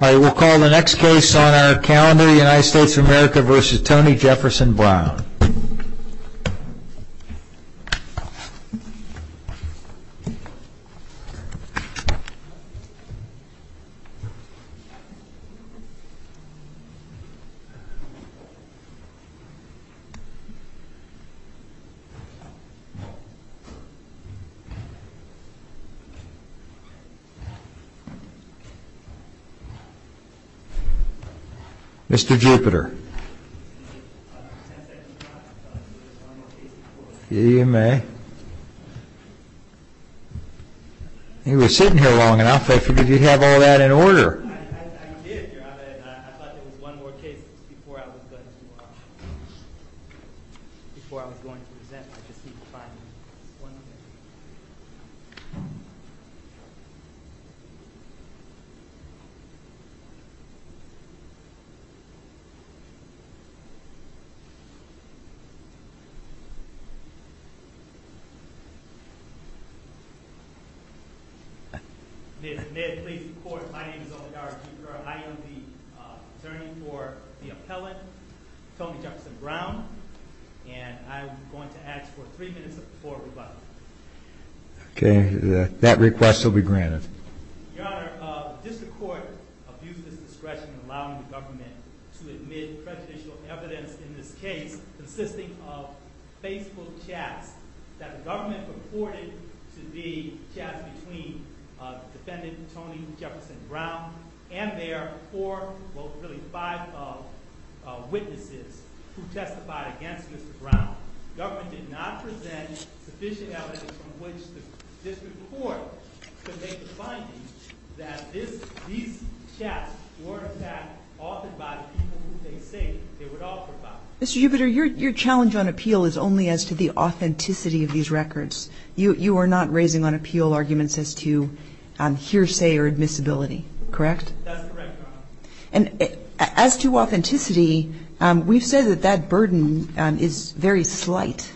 I will call the next case on our calendar the United States of America versus Tony Jefferson Browne Mr. Jupiter He was sitting here long enough. I figured you'd have all that in order. I thought there was one more case before I was going to present. I just need to find one more. May it please the court, my name is Omedara Jupiter. I am the attorney for the appellant, Tony Jefferson Browne, and I'm going to ask for three minutes before we vote. Okay, that request will be granted. Your Honor, the district court abused its discretion in allowing the government to admit prejudicial evidence in this case consisting of Facebook chats that the government reported to be chats between defendant Tony Jefferson Browne and their four, well really five witnesses who testified against Mr. Browne. Mr. Jupiter, your challenge on appeal is only as to the authenticity of these records. You are not raising on appeal arguments as to hearsay or admissibility, correct? That's correct, Your Honor. And as to authenticity, we've said that that burden is very slight.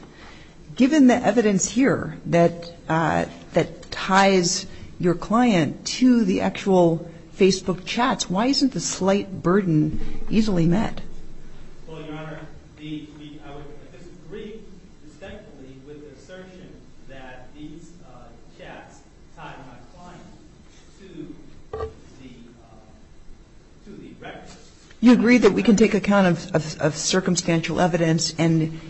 Given the evidence here that ties your client to the actual Facebook chats, why isn't the slight burden easily met? Well, Your Honor, I would disagree distinctly with the assertion that these chats tied my client to the records. You agree that we can take account of circumstantial evidence and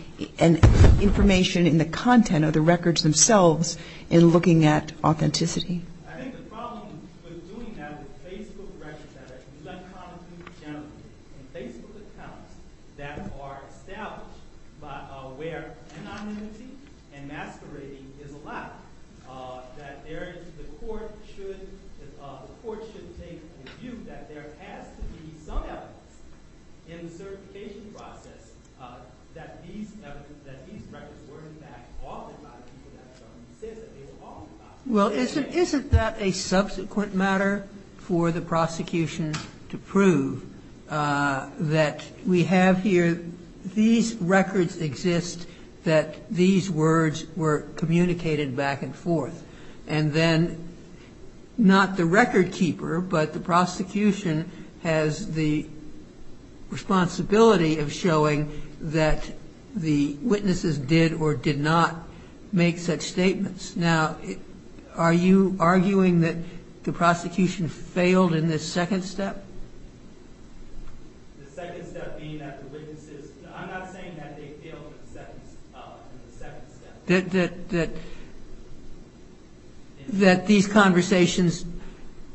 information in the content of the records themselves in looking at authenticity? I think the problem with doing that with Facebook records that are uncommon to the general public and Facebook accounts that are established where anonymity and masquerading is allowed, that the court should take the view that there has to be some evidence in the certification process that these records were in fact authored by the people at the time. Well, isn't that a subsequent matter for the prosecution to prove that we have here, these records exist, that these words were communicated back and forth? And then, not the record keeper, but the prosecution has the responsibility of showing that the witnesses did or did not make such statements. Now, are you arguing that the prosecution failed in this second step? The second step being that the witnesses, I'm not saying that they failed in the second step. That these conversations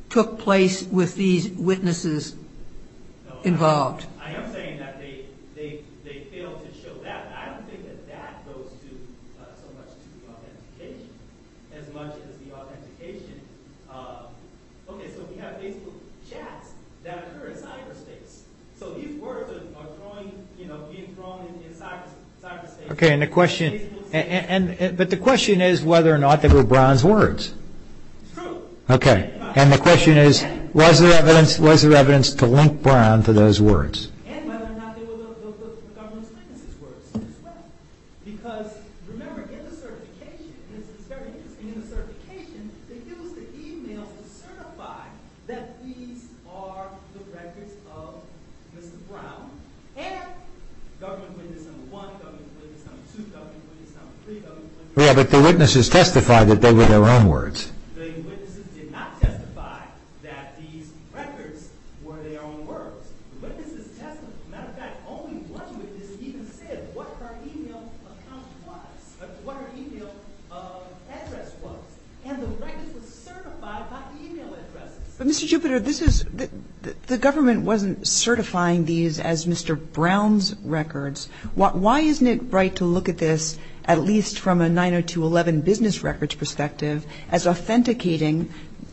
took place with these witnesses involved? No, I am saying that they failed to show that. I don't think that that goes so much to the authentication as much as the authentication. Okay, so we have Facebook chats that occur in cyberspace. So these words are being thrown in cyberspace. Okay, but the question is whether or not they were Brown's words. It's true. Okay, and the question is was there evidence to link Brown to those words? And whether or not they were the government's witnesses' words as well. Because, remember, in the certification, and this is very interesting, in the certification, they used the e-mails to certify that these are the records of Mr. Brown and government witness number one, government witness number two, government witness number three, government witness number four. Yeah, but the witnesses testified that they were their own words. The witnesses did not testify that these records were their own words. The witnesses testified, as a matter of fact, only once with this even said what her e-mail account was, what her e-mail address was. And the records were certified by e-mail addresses. But, Mr. Jupiter, this is the government wasn't certifying these as Mr. Brown's records. Why isn't it right to look at this at least from a 90211 business records perspective as authenticating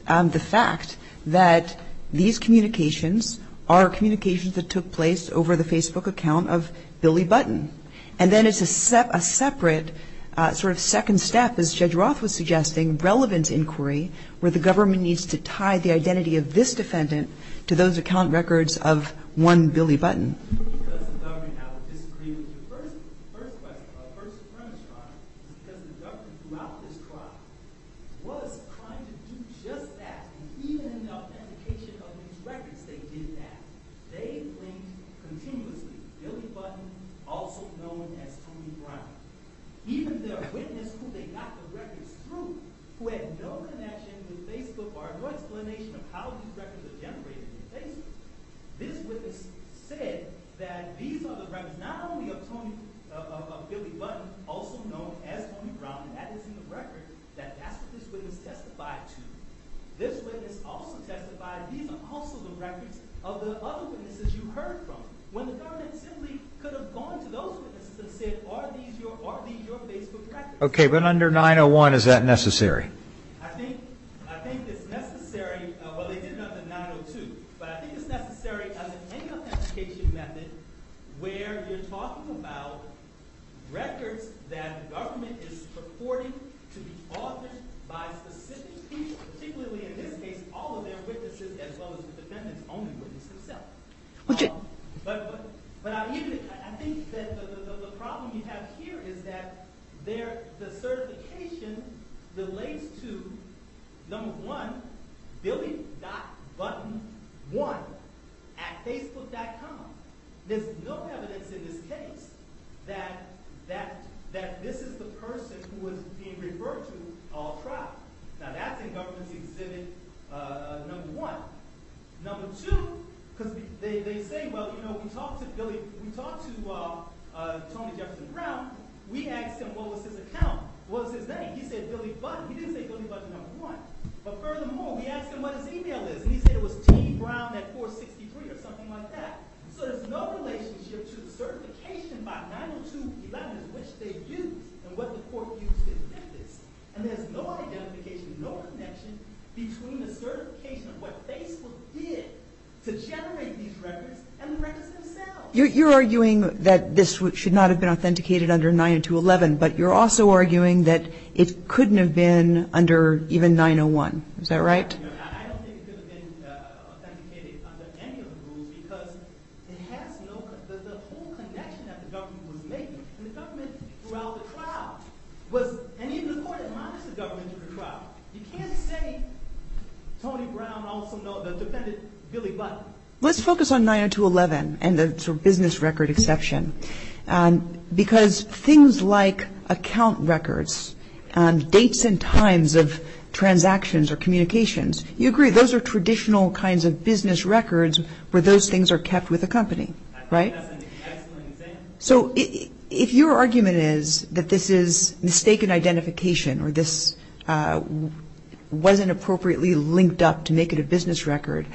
the fact that these communications are communications that took place over the Facebook account of Billy Button? And then it's a separate sort of second step, as Judge Roth was suggesting, relevant inquiry, where the government needs to tie the identity of this defendant to those account records of one Billy Button. Because the government had a disagreement. The first question, the first premise, was because the government throughout this trial was trying to do just that. And even in the authentication of these records, they did that. They linked continuously Billy Button, also known as Tony Brown. Even their witness who they got the records through, who had no connection with Facebook or no explanation of how these records are generated in Facebook, this witness said that these are the records not only of Billy Button, also known as Tony Brown, that is in the record, that that's what this witness testified to, this witness also testified that these are also the records of the other witnesses you heard from. When the government simply could have gone to those witnesses and said, are these your Facebook records? Okay, but under 901, is that necessary? I think it's necessary – well, they did it under 902. But I think it's necessary as an authentication method where you're talking about records that the government is purporting to be authored by specific people, particularly in this case all of their witnesses as well as the defendant's own witness himself. But I think that the problem you have here is that the certification relates to, number one, Billy.Button1 at Facebook.com. There's no evidence in this case that this is the person who was being referred to all trial. Now, that's in government's exhibit number one. Number two, because they say, well, you know, we talked to Billy – we talked to Tony Jefferson Brown. We asked him what was his account, what was his name. He said Billy Button. He didn't say Billy Button1. But furthermore, we asked him what his email is, and he said it was tbrown at 463 or something like that. So there's no relationship to the certification by 902.11 as which they used and what the court used to defend this. And there's no identification, no connection between the certification of what Facebook did to generate these records and the records themselves. You're arguing that this should not have been authenticated under 902.11, but you're also arguing that it couldn't have been under even 901. Is that right? I don't think it could have been authenticated under any of the rules because it has no – the whole connection that the government was making and the government throughout the trial was – and even the court admonished the government in the trial. You can't say Tony Brown also defended Billy Button. Let's focus on 902.11 and the business record exception because things like account records, dates and times of transactions or communications, you agree, those are traditional kinds of business records where those things are kept with the company, right? I think that's an excellent example. So if your argument is that this is mistaken identification or this wasn't appropriately linked up to make it a business record,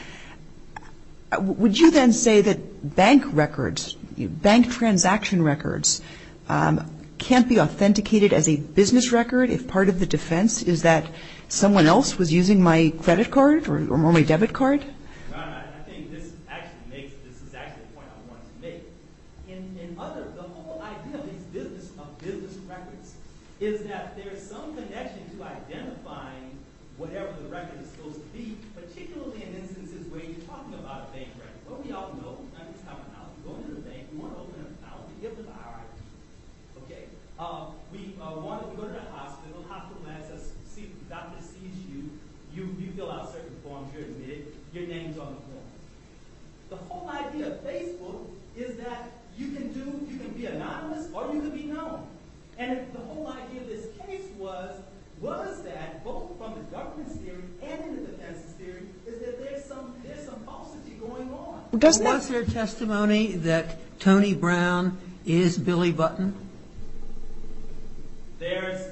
would you then say that bank records, bank transaction records can't be authenticated as a business record if part of the defense is that someone else was using my credit card or my debit card? I think this actually makes – this is actually a point I wanted to make. In other – the whole idea of these business records is that there's some connection to identifying whatever the record is supposed to be, particularly in instances where you're talking about a bank record. What we all know – I mean it's common knowledge. You go into the bank, you want to open an account, you get the RIP. Okay. We go to the hospital, the doctor sees you, you fill out certain forms, you're admitted, your name's on the form. The whole idea of Facebook is that you can do – you can be anonymous or you can be known. And the whole idea of this case was that both from the government's theory and the defense's theory is that there's some falsity going on. Was there testimony that Tony Brown is Billy Button? There's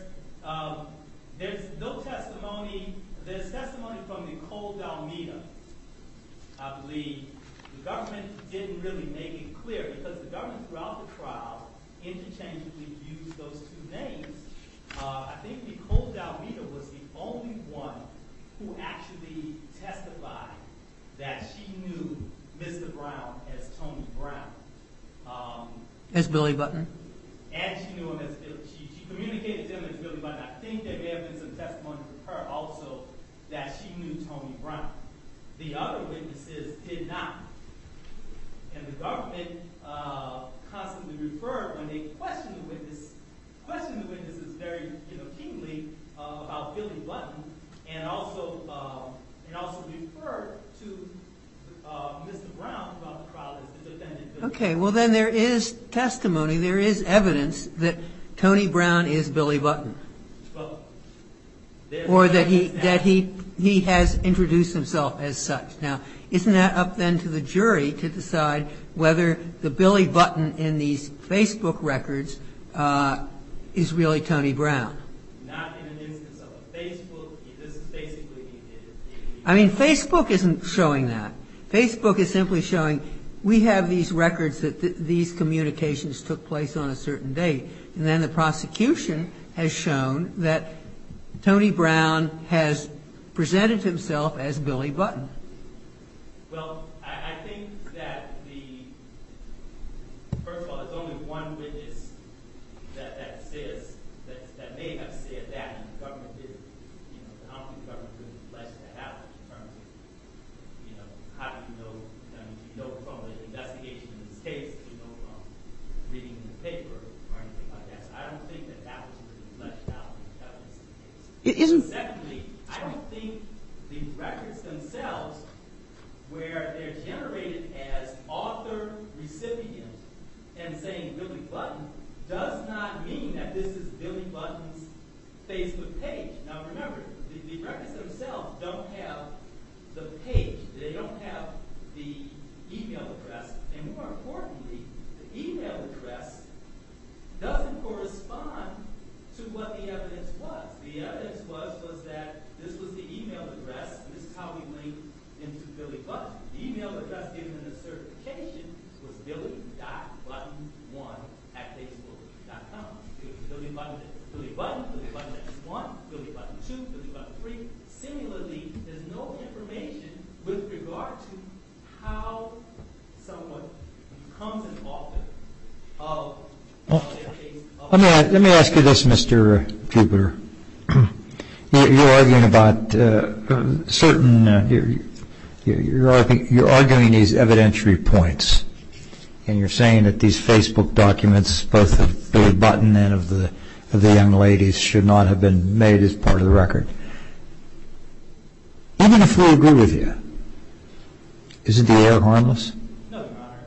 no testimony. There's testimony from Nicole Dalmita, I believe. The government didn't really make it clear because the government throughout the trial interchangeably used those two names. I think Nicole Dalmita was the only one who actually testified that she knew Mr. Brown as Tony Brown. As Billy Button. And she knew him as – she communicated to him as Billy Button. I think there may have been some testimony from her also that she knew Tony Brown. The other witnesses did not. And the government constantly referred when they questioned the witnesses very keenly about Billy Button and also referred to Mr. Brown throughout the trial as the defendant Billy Button. Okay. Well, then there is testimony, there is evidence that Tony Brown is Billy Button. Well, there was evidence that. Or that he has introduced himself as such. Now, isn't that up then to the jury to decide whether the Billy Button in these Facebook records is really Tony Brown? Not in the instance of a Facebook. This is basically the individual. I mean, Facebook isn't showing that. Facebook is simply showing we have these records that these communications took place on a certain date. And then the prosecution has shown that Tony Brown has presented himself as Billy Button. Well, I think that the – first of all, there is only one witness that says – that may have said that and the government didn't. You know, I don't think the government really fleshed that out in terms of, you know, how do you know – I mean, you know from the investigation in this case, you know from reading the paper or anything like that. I don't think that that was really fleshed out in the government's case. Secondly, I don't think the records themselves, where they're generated as author, recipient, and saying Billy Button, does not mean that this is Billy Button's Facebook page. Now, remember, the records themselves don't have the page. They don't have the email address. And more importantly, the email address doesn't correspond to what the evidence was. The evidence was that this was the email address. This is how we link into Billy Button. The email address given in the certification was billy.button1atfacebook.com. It was Billy Button, Billy Button X1, Billy Button 2, Billy Button 3. Similarly, there's no information with regard to how someone becomes an author. Let me ask you this, Mr. Jupiter. You're arguing about certain – you're arguing these evidentiary points. And you're saying that these Facebook documents, both of Billy Button and of the young ladies, should not have been made as part of the record. Even if we agree with you, isn't the error harmless? No, Your Honor.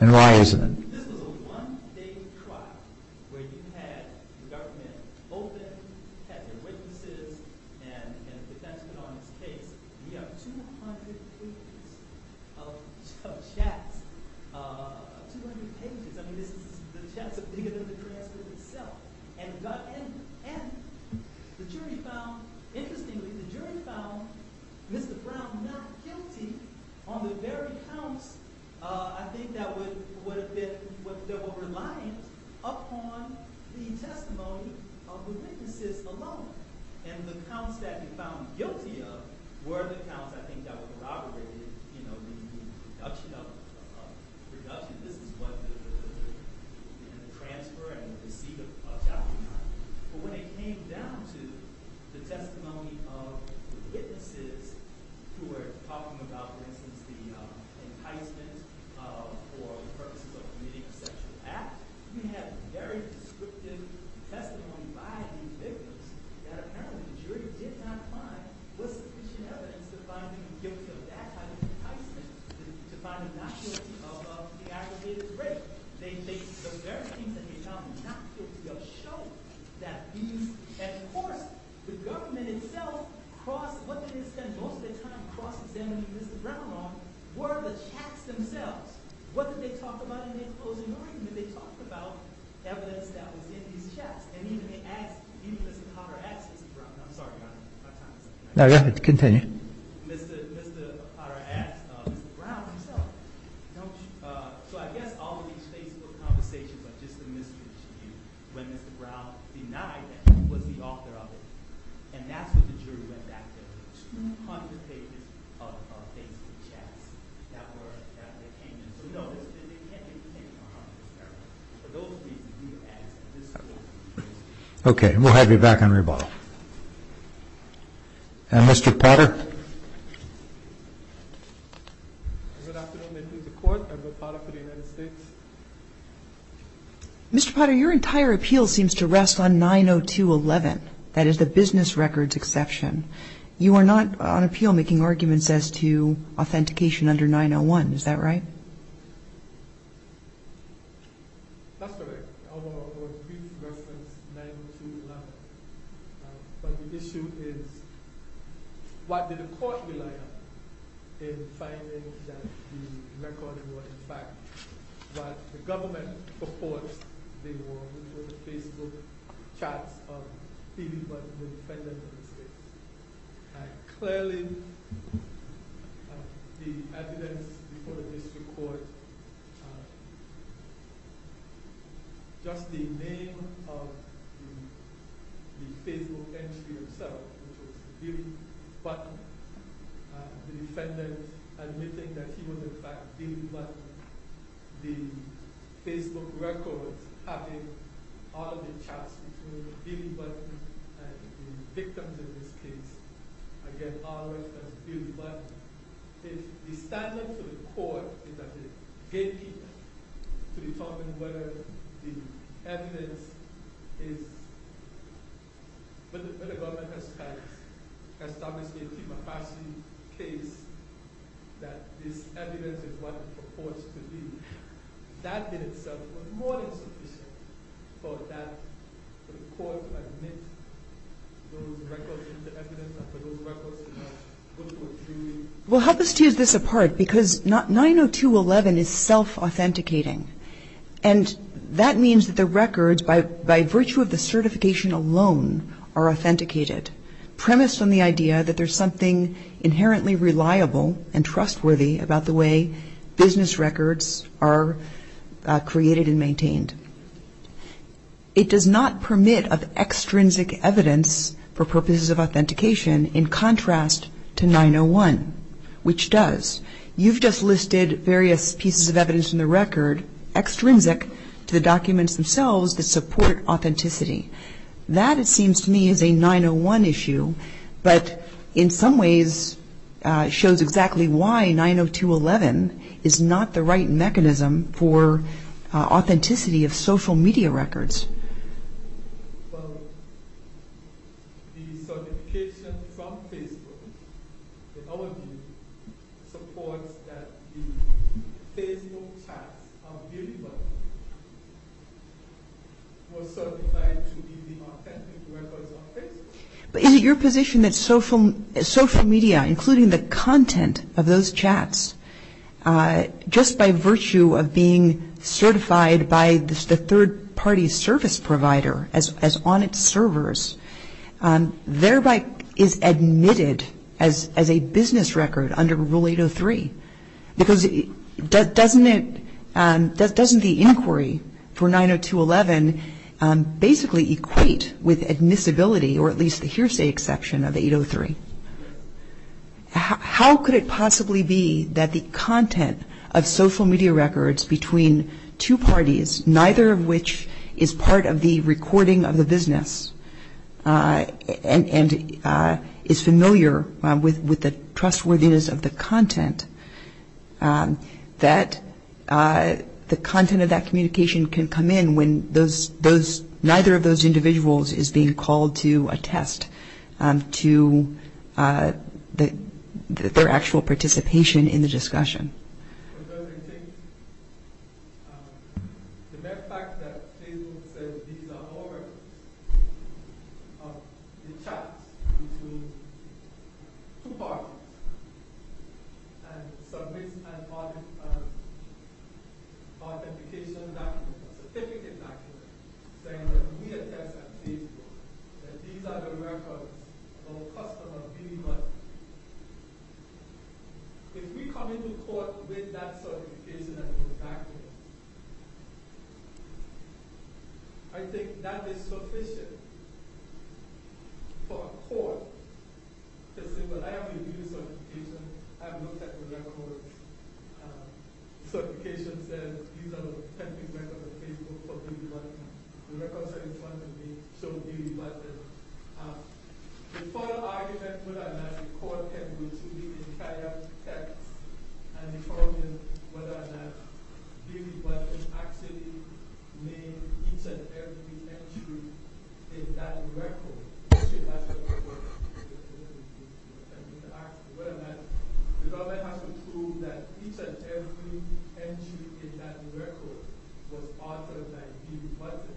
And why isn't it? This was a one-day trial where you had the dark men open, had their witnesses, and the defense put on its case. We have 200 pages of chats, 200 pages. I mean, this is – the chats are bigger than the transcript itself. And the jury found – interestingly, the jury found Mr. Brown not guilty on the very counts, I think, that would have been – that were reliant upon the testimony of the witnesses alone. And the counts that he found guilty of were the counts, I think, that corroborated, you know, the production of – this is what the transfer and receipt of documents. But when it came down to the testimony of the witnesses who were talking about, for instance, the enticement for the purposes of committing a sexual act, we have very descriptive testimony by these victims that apparently the jury did not find sufficient evidence to find him guilty of that kind of enticement, to find him not guilty of the aggravated rape. The very things that he found not guilty of show that he's – and, of course, the government itself crossed – what they spent most of their time cross-examining Mr. Brown on were the chats themselves. What did they talk about in the closing argument? They talked about evidence that was in these chats. And even they asked – even Mr. Potter asked Mr. Brown – I'm sorry, Your Honor, my time is up. No, go ahead. Continue. Mr. Potter asked Mr. Brown himself. So I guess all of these Facebook conversations are just a miscommunication when Mr. Brown denied that he was the author of it. And that's what the jury went back to, 200 pages of Facebook chats that were – that they came in. So, you know, they can't even think of 100, for those reasons, we ask that this court – Okay, and we'll have you back on rebuttal. And Mr. Potter? Mr. Potter, your entire appeal seems to rest on 902.11. That is the business records exception. You are not on appeal making arguments as to authentication under 901. Is that right? But the issue is, what did the court rely on in finding that the record was, in fact, what the government purports they were, which were the Facebook chats of people who were defendants of the state? Clearly, the evidence before the district court, just the name of the Facebook entry itself, which was Billy Button, the defendant admitting that he was, in fact, Billy Button, the Facebook records having all of the chats between Billy Button and the victims in this case, again, all reference to Billy Button. The standard to the court is that they gatekeep to determine whether the evidence is – But the government has established a democracy case that this evidence is what it purports to be. That in itself was more than sufficient for the court to admit those records into evidence and for those records to go to a jury. Well, help us tease this apart, because 902.11 is self-authenticating. And that means that the records, by virtue of the certification alone, are authenticated, premised on the idea that there's something inherently reliable and trustworthy about the way business records are created and maintained. It does not permit of extrinsic evidence for purposes of authentication in contrast to 901, which does. You've just listed various pieces of evidence in the record extrinsic to the documents themselves that support authenticity. That, it seems to me, is a 901 issue, but in some ways shows exactly why 902.11 is not the right mechanism for authenticity of social media records. Well, the certification from Facebook, in our view, supports that the Facebook chats are believable, were certified to be the authentic records of Facebook. But is it your position that social media, including the content of those chats, just by virtue of being certified by the third-party service provider as on its servers, thereby is admitted as a business record under Rule 803? Because doesn't the inquiry for 902.11 basically equate with admissibility, or at least the hearsay exception of 803? How could it possibly be that the content of social media records between two parties, neither of which is part of the recording of the business and is familiar with the trustworthiness of the content, that the content of that communication can come in when neither of those individuals is being called to attest to the authenticity of the content? Their actual participation in the discussion. The mere fact that Facebook says these are all records of the chats between two parties and submits an authentication document, a certificate document, saying that we attest at Facebook that these are the records of a customer being monitored. If we come into court with that certification and a document, I think that is sufficient for a court to say, well, I have reviewed the certification, I have looked at the records, the certification says these are the 10% of the Facebook for Billy Button. The records are in front of me showing Billy Button. The final argument whether or not the court can go through the entire text and determine whether or not Billy Button actually named each and every entry in that record is a question that should ask the court whether or not the government has to prove that each and every entry in that record was authored by Billy Button.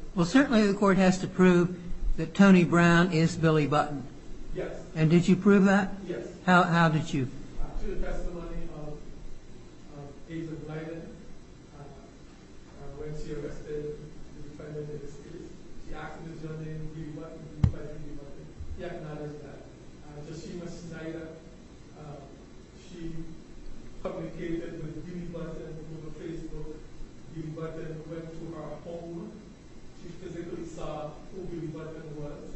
Yes. And did you prove that? Yes. How did you? Through the testimony of Ava Blyden. When she arrested the defendant in this case, she asked if his name was Billy Button. He acknowledged that. So she was tied up. She communicated with Billy Button over Facebook. Billy Button went to her home. She physically saw who Billy Button was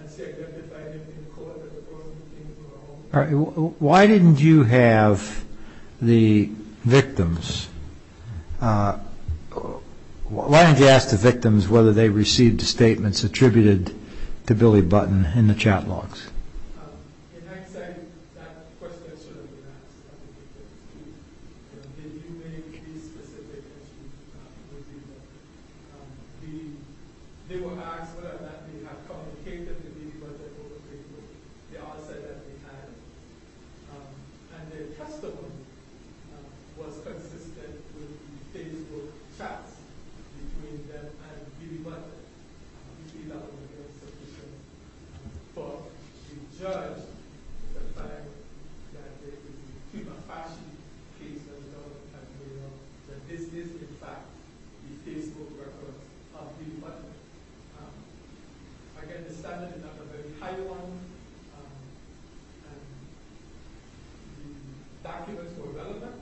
and she identified him in court. Why didn't you have the victims, why didn't you ask the victims whether they received the statements attributed to Billy Button in the chat logs? In hindsight, that question should have been asked of the victims too. Did you make these specific entries with Billy Button? They were asked whether or not they had communicated with Billy Button over Facebook. They all said that they had. And the testimony was consistent with the Facebook chats between them and Billy Button. But you judge the fact that this is, in fact, the Facebook records of Billy Button. Again, the standard is not a very high one. The documents were relevant.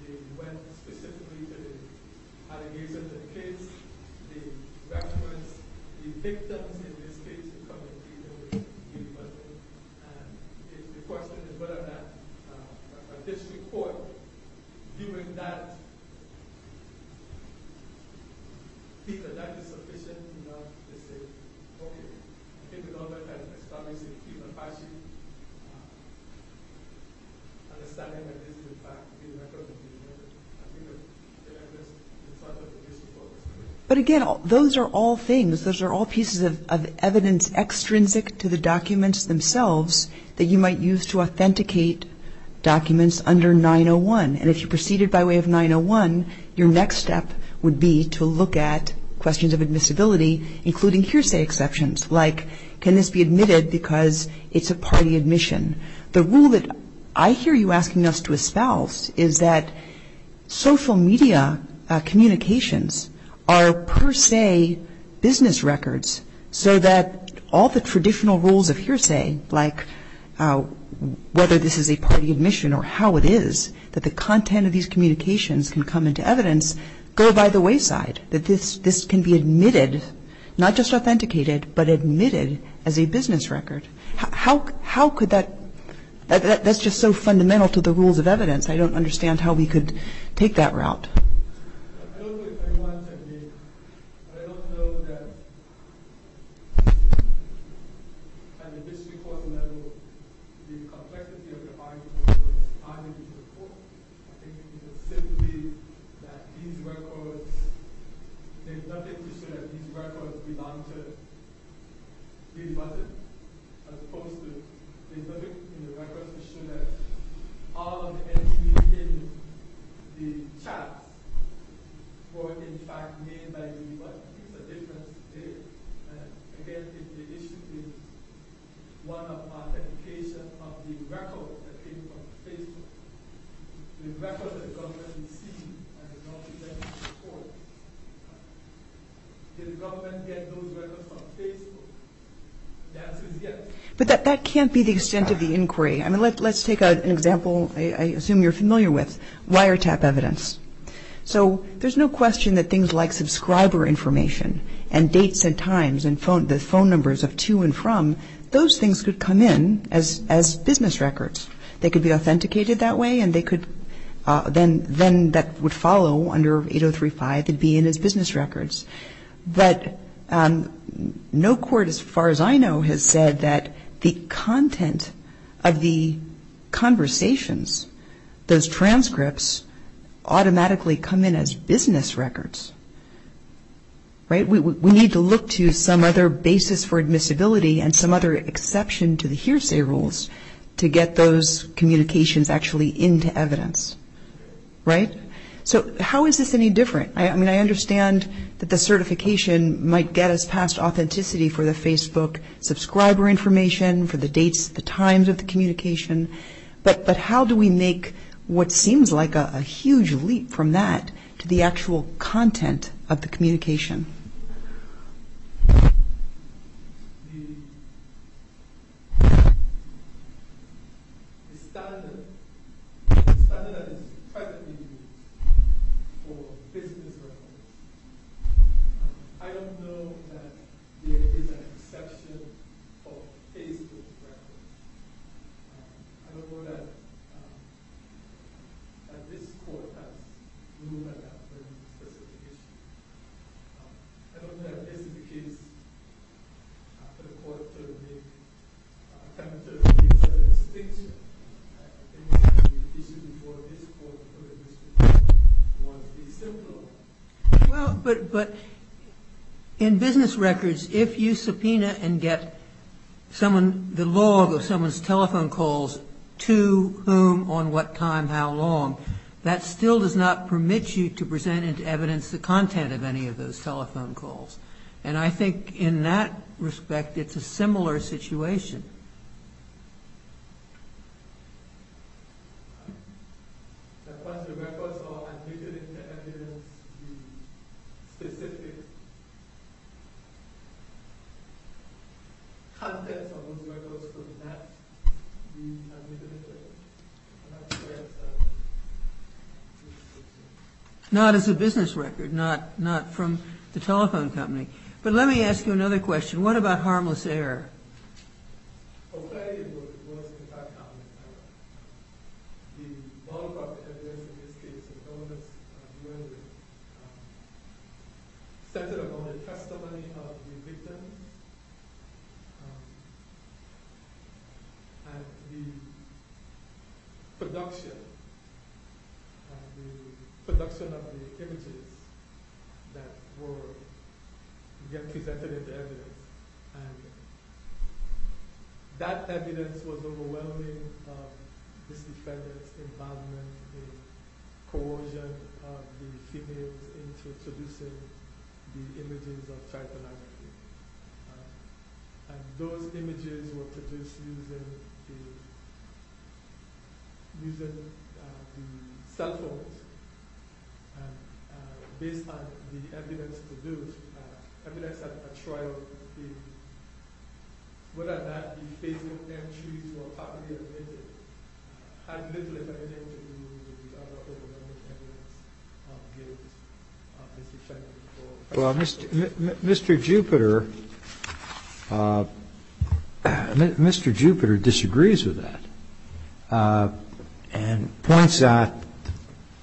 They went specifically to the allegations of the case. The victims in this case communicated with Billy Button. And the question is whether or not a district court, But again, those are all things, those are all pieces of evidence extrinsic to the documents themselves that you might use to authenticate documents under 901. And if you proceeded by way of 901, your next step would be to look at questions of admissibility, including hearsay exceptions, like can this be admitted because it's a party admission. The rule that I hear you asking us to espouse is that social media communications are per se business records, so that all the traditional rules of hearsay, like whether this is a party admission or how it is, that the content of these communications can come into evidence, go by the wayside, that this can be admitted, not just authenticated, but admitted as a business record. How could that, that's just so fundamental to the rules of evidence. I don't understand how we could take that route. I don't know if anyone can hear me, but I don't know that at the district court level, the complexity of the article was timely before. I think it was simply that these records, there's nothing to show that these records belong to Billy Button. As opposed to, there's nothing in the records to show that all of the entries in the chats were in fact made by Billy Button. There's a difference there. Again, if the issue is one of authentication of the record that came from Facebook, the record that the government received and did not present to the court, did the government get those records from Facebook? But that can't be the extent of the inquiry. I mean, let's take an example I assume you're familiar with, wiretap evidence. So there's no question that things like subscriber information and dates and times and the phone numbers of to and from, those things could come in as business records. They could be authenticated that way, and they could, then that would follow under 8035, they'd be in as business records. But no court as far as I know has said that the content of the conversations, those transcripts automatically come in as business records. We need to look to some other basis for admissibility and some other exception to the hearsay rules to get those communications actually into evidence. So how is this any different? I mean, I understand that the certification might get us past authenticity for the Facebook subscriber information, for the dates, the times of the communication, but how do we make what seems like a huge leap from that to the actual content of the communication? The standard that is presently used for business records, I don't know that there is an exception for Facebook records. I don't know that this court has ruled on that particular issue. I don't know that this is the case for the court to make, kind of to make a certain distinction. I think the issue before this court put it was the simple law. to whom, on what time, how long. That still does not permit you to present into evidence the content of any of those telephone calls. And I think in that respect it's a similar situation. I don't know. Not as a business record, not from the telephone company. But let me ask you another question. What about harmless error? Get presented into evidence. And that evidence was overwhelming misdemeanors, embalming, coercion of the females into producing the images of child pornography. And those images were produced using the cell phones. And based on the evidence produced, evidence at a trial, whether that be Facebook entries or copy of images, had little or nothing to do with the other overwhelming evidence. Well, Mr. Jupiter, Mr. Jupiter disagrees with that. And points out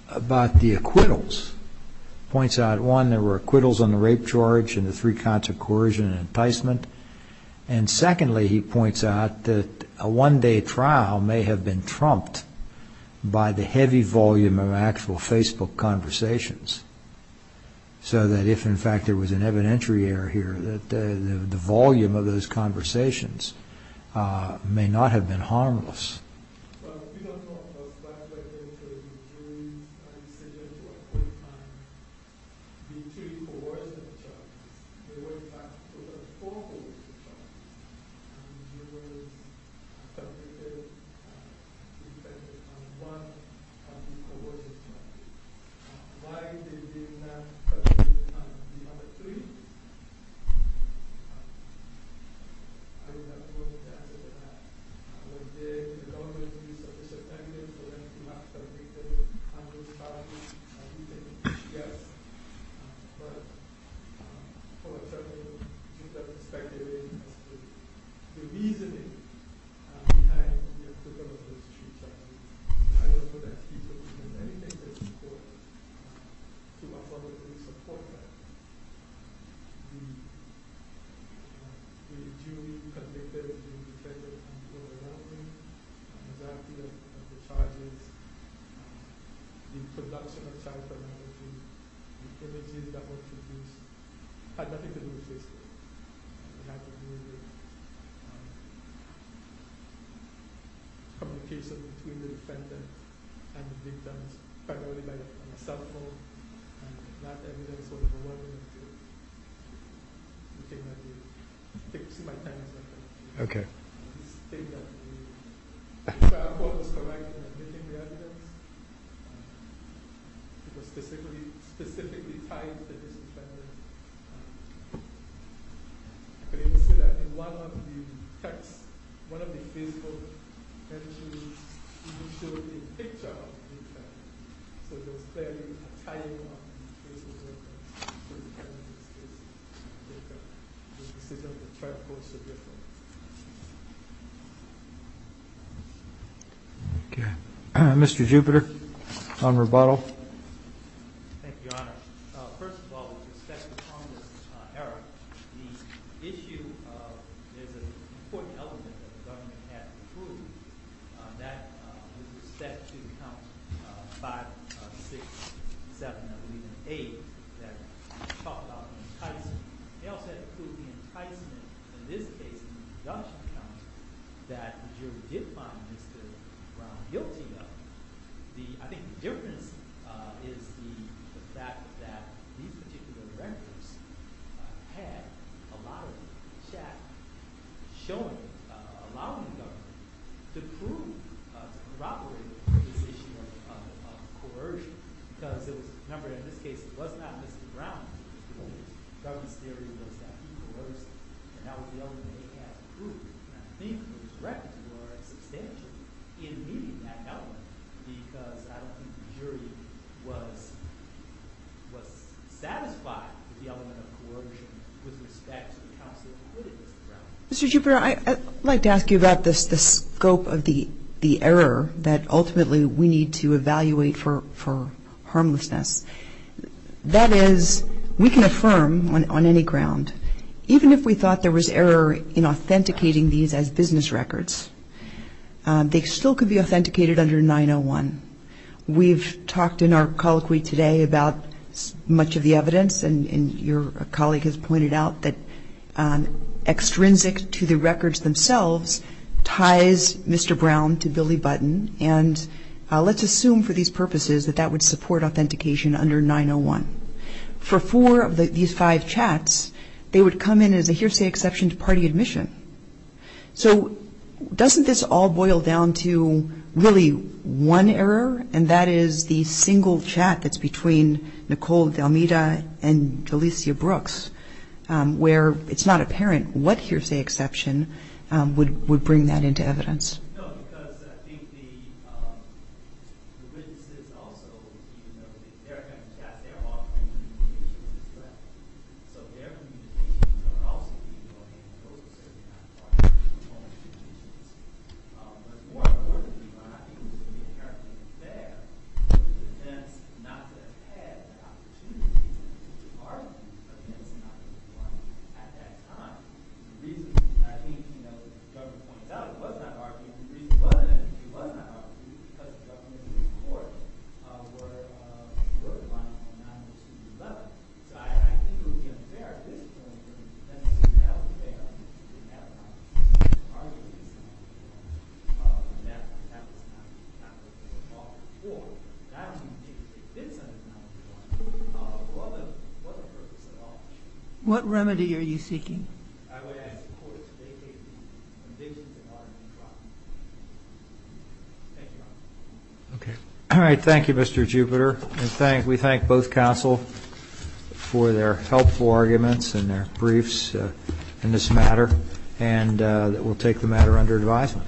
about the acquittals. Points out, one, there were acquittals on the rape charge and the three kinds of coercion and enticement. And secondly, he points out that a one-day trial may have been trumped by the heavy volume of actual Facebook conversations. So that if, in fact, there was an evidentiary error here, the volume of those conversations may not have been harmless. But we don't know if that was a decision to appoint on the three coercive charges. There were, in fact, over four coercive charges. And he was convicted on one of the coercive charges. Why they did not convict on the other three? I do not know the answer to that. I was there with the government. We used official evidence. We went through that. I think they were understaffed. And we take it as yes. But, for example, Mr. Jupiter's perspective is the reasoning behind the acquittal of those three charges. I don't know that he could have done anything to support that. To my knowledge, he did support that. The jury convicted him because there were people around him. The exactity of the charges, the production of child pornography, the images that were produced had nothing to do with Facebook. It had nothing to do with communication between the defendant and the victims primarily by cell phone. And that evidence would have allowed him to do the thing that he did. Take my time, sir. Okay. He stated that he found what was correct in admitting the evidence. It was specifically tied to this defendant. But he said that in one of the texts, one of the Facebook entries, he showed the picture of the defendant. So there was clearly a tying up in the case of the defendant's case. The decision of the trial court is so different. Okay. Mr. Jupiter, on rebuttal. Thank you, Your Honor. First of all, with respect to Congress' error, the issue of there's an important element that the government had to prove. That is the statute of counts 5, 6, 7, I believe, and 8 that talk about enticement. They also had to prove the enticement. In this case, it was a Dutch count that the jury did find Mr. Brown guilty of. I think the difference is the fact that these particular records had a lot of chat showing, allowing the government to prove, to corroborate this issue of coercion. Because, remember, in this case, it was not Mr. Brown who was guilty. The government's theory was that he was. And that was the only thing they had to prove. And I think those records were substantial in meeting that element because I don't think the jury was satisfied with the element of coercion with respect to the counts that included Mr. Brown. Mr. Jupiter, I'd like to ask you about the scope of the error that ultimately we need to evaluate for harmlessness. That is, we can affirm on any ground, even if we thought there was error in authenticating these as business records, they still could be authenticated under 901. We've talked in our colloquy today about much of the evidence. And your colleague has pointed out that extrinsic to the records themselves ties Mr. Brown to Billy Button. And let's assume for these purposes that that would support authentication under 901. For four of these five chats, they would come in as a hearsay exception to party admission. So doesn't this all boil down to really one error? And that is the single chat that's between Nicole Delmeda and Delicia Brooks, where it's not apparent what hearsay exception would bring that into evidence. No, because I think the witnesses also, even though they're coming to chat, they're offering communications as well. So their communications are also being organized. Those are certainly not part of the formal communications. But more importantly, I think it's going to be inherently unfair for the defense not to have had the opportunity to depart against 901 at that time. The reason, I think, you know, as the government points out, it was not argued. The reason it wasn't argued was because the government and the court were divided on 902.11. So I think it would be unfair at this point for the defense to have failed to have an opportunity to argue this under 901. And that was not the purpose at all before. And I don't even think it fits under 901. It wasn't the purpose at all. What remedy are you seeking? All right. Thank you, Mr. Jupiter. We thank both counsel for their helpful arguments and their briefs in this matter. And we'll take the matter under advisement.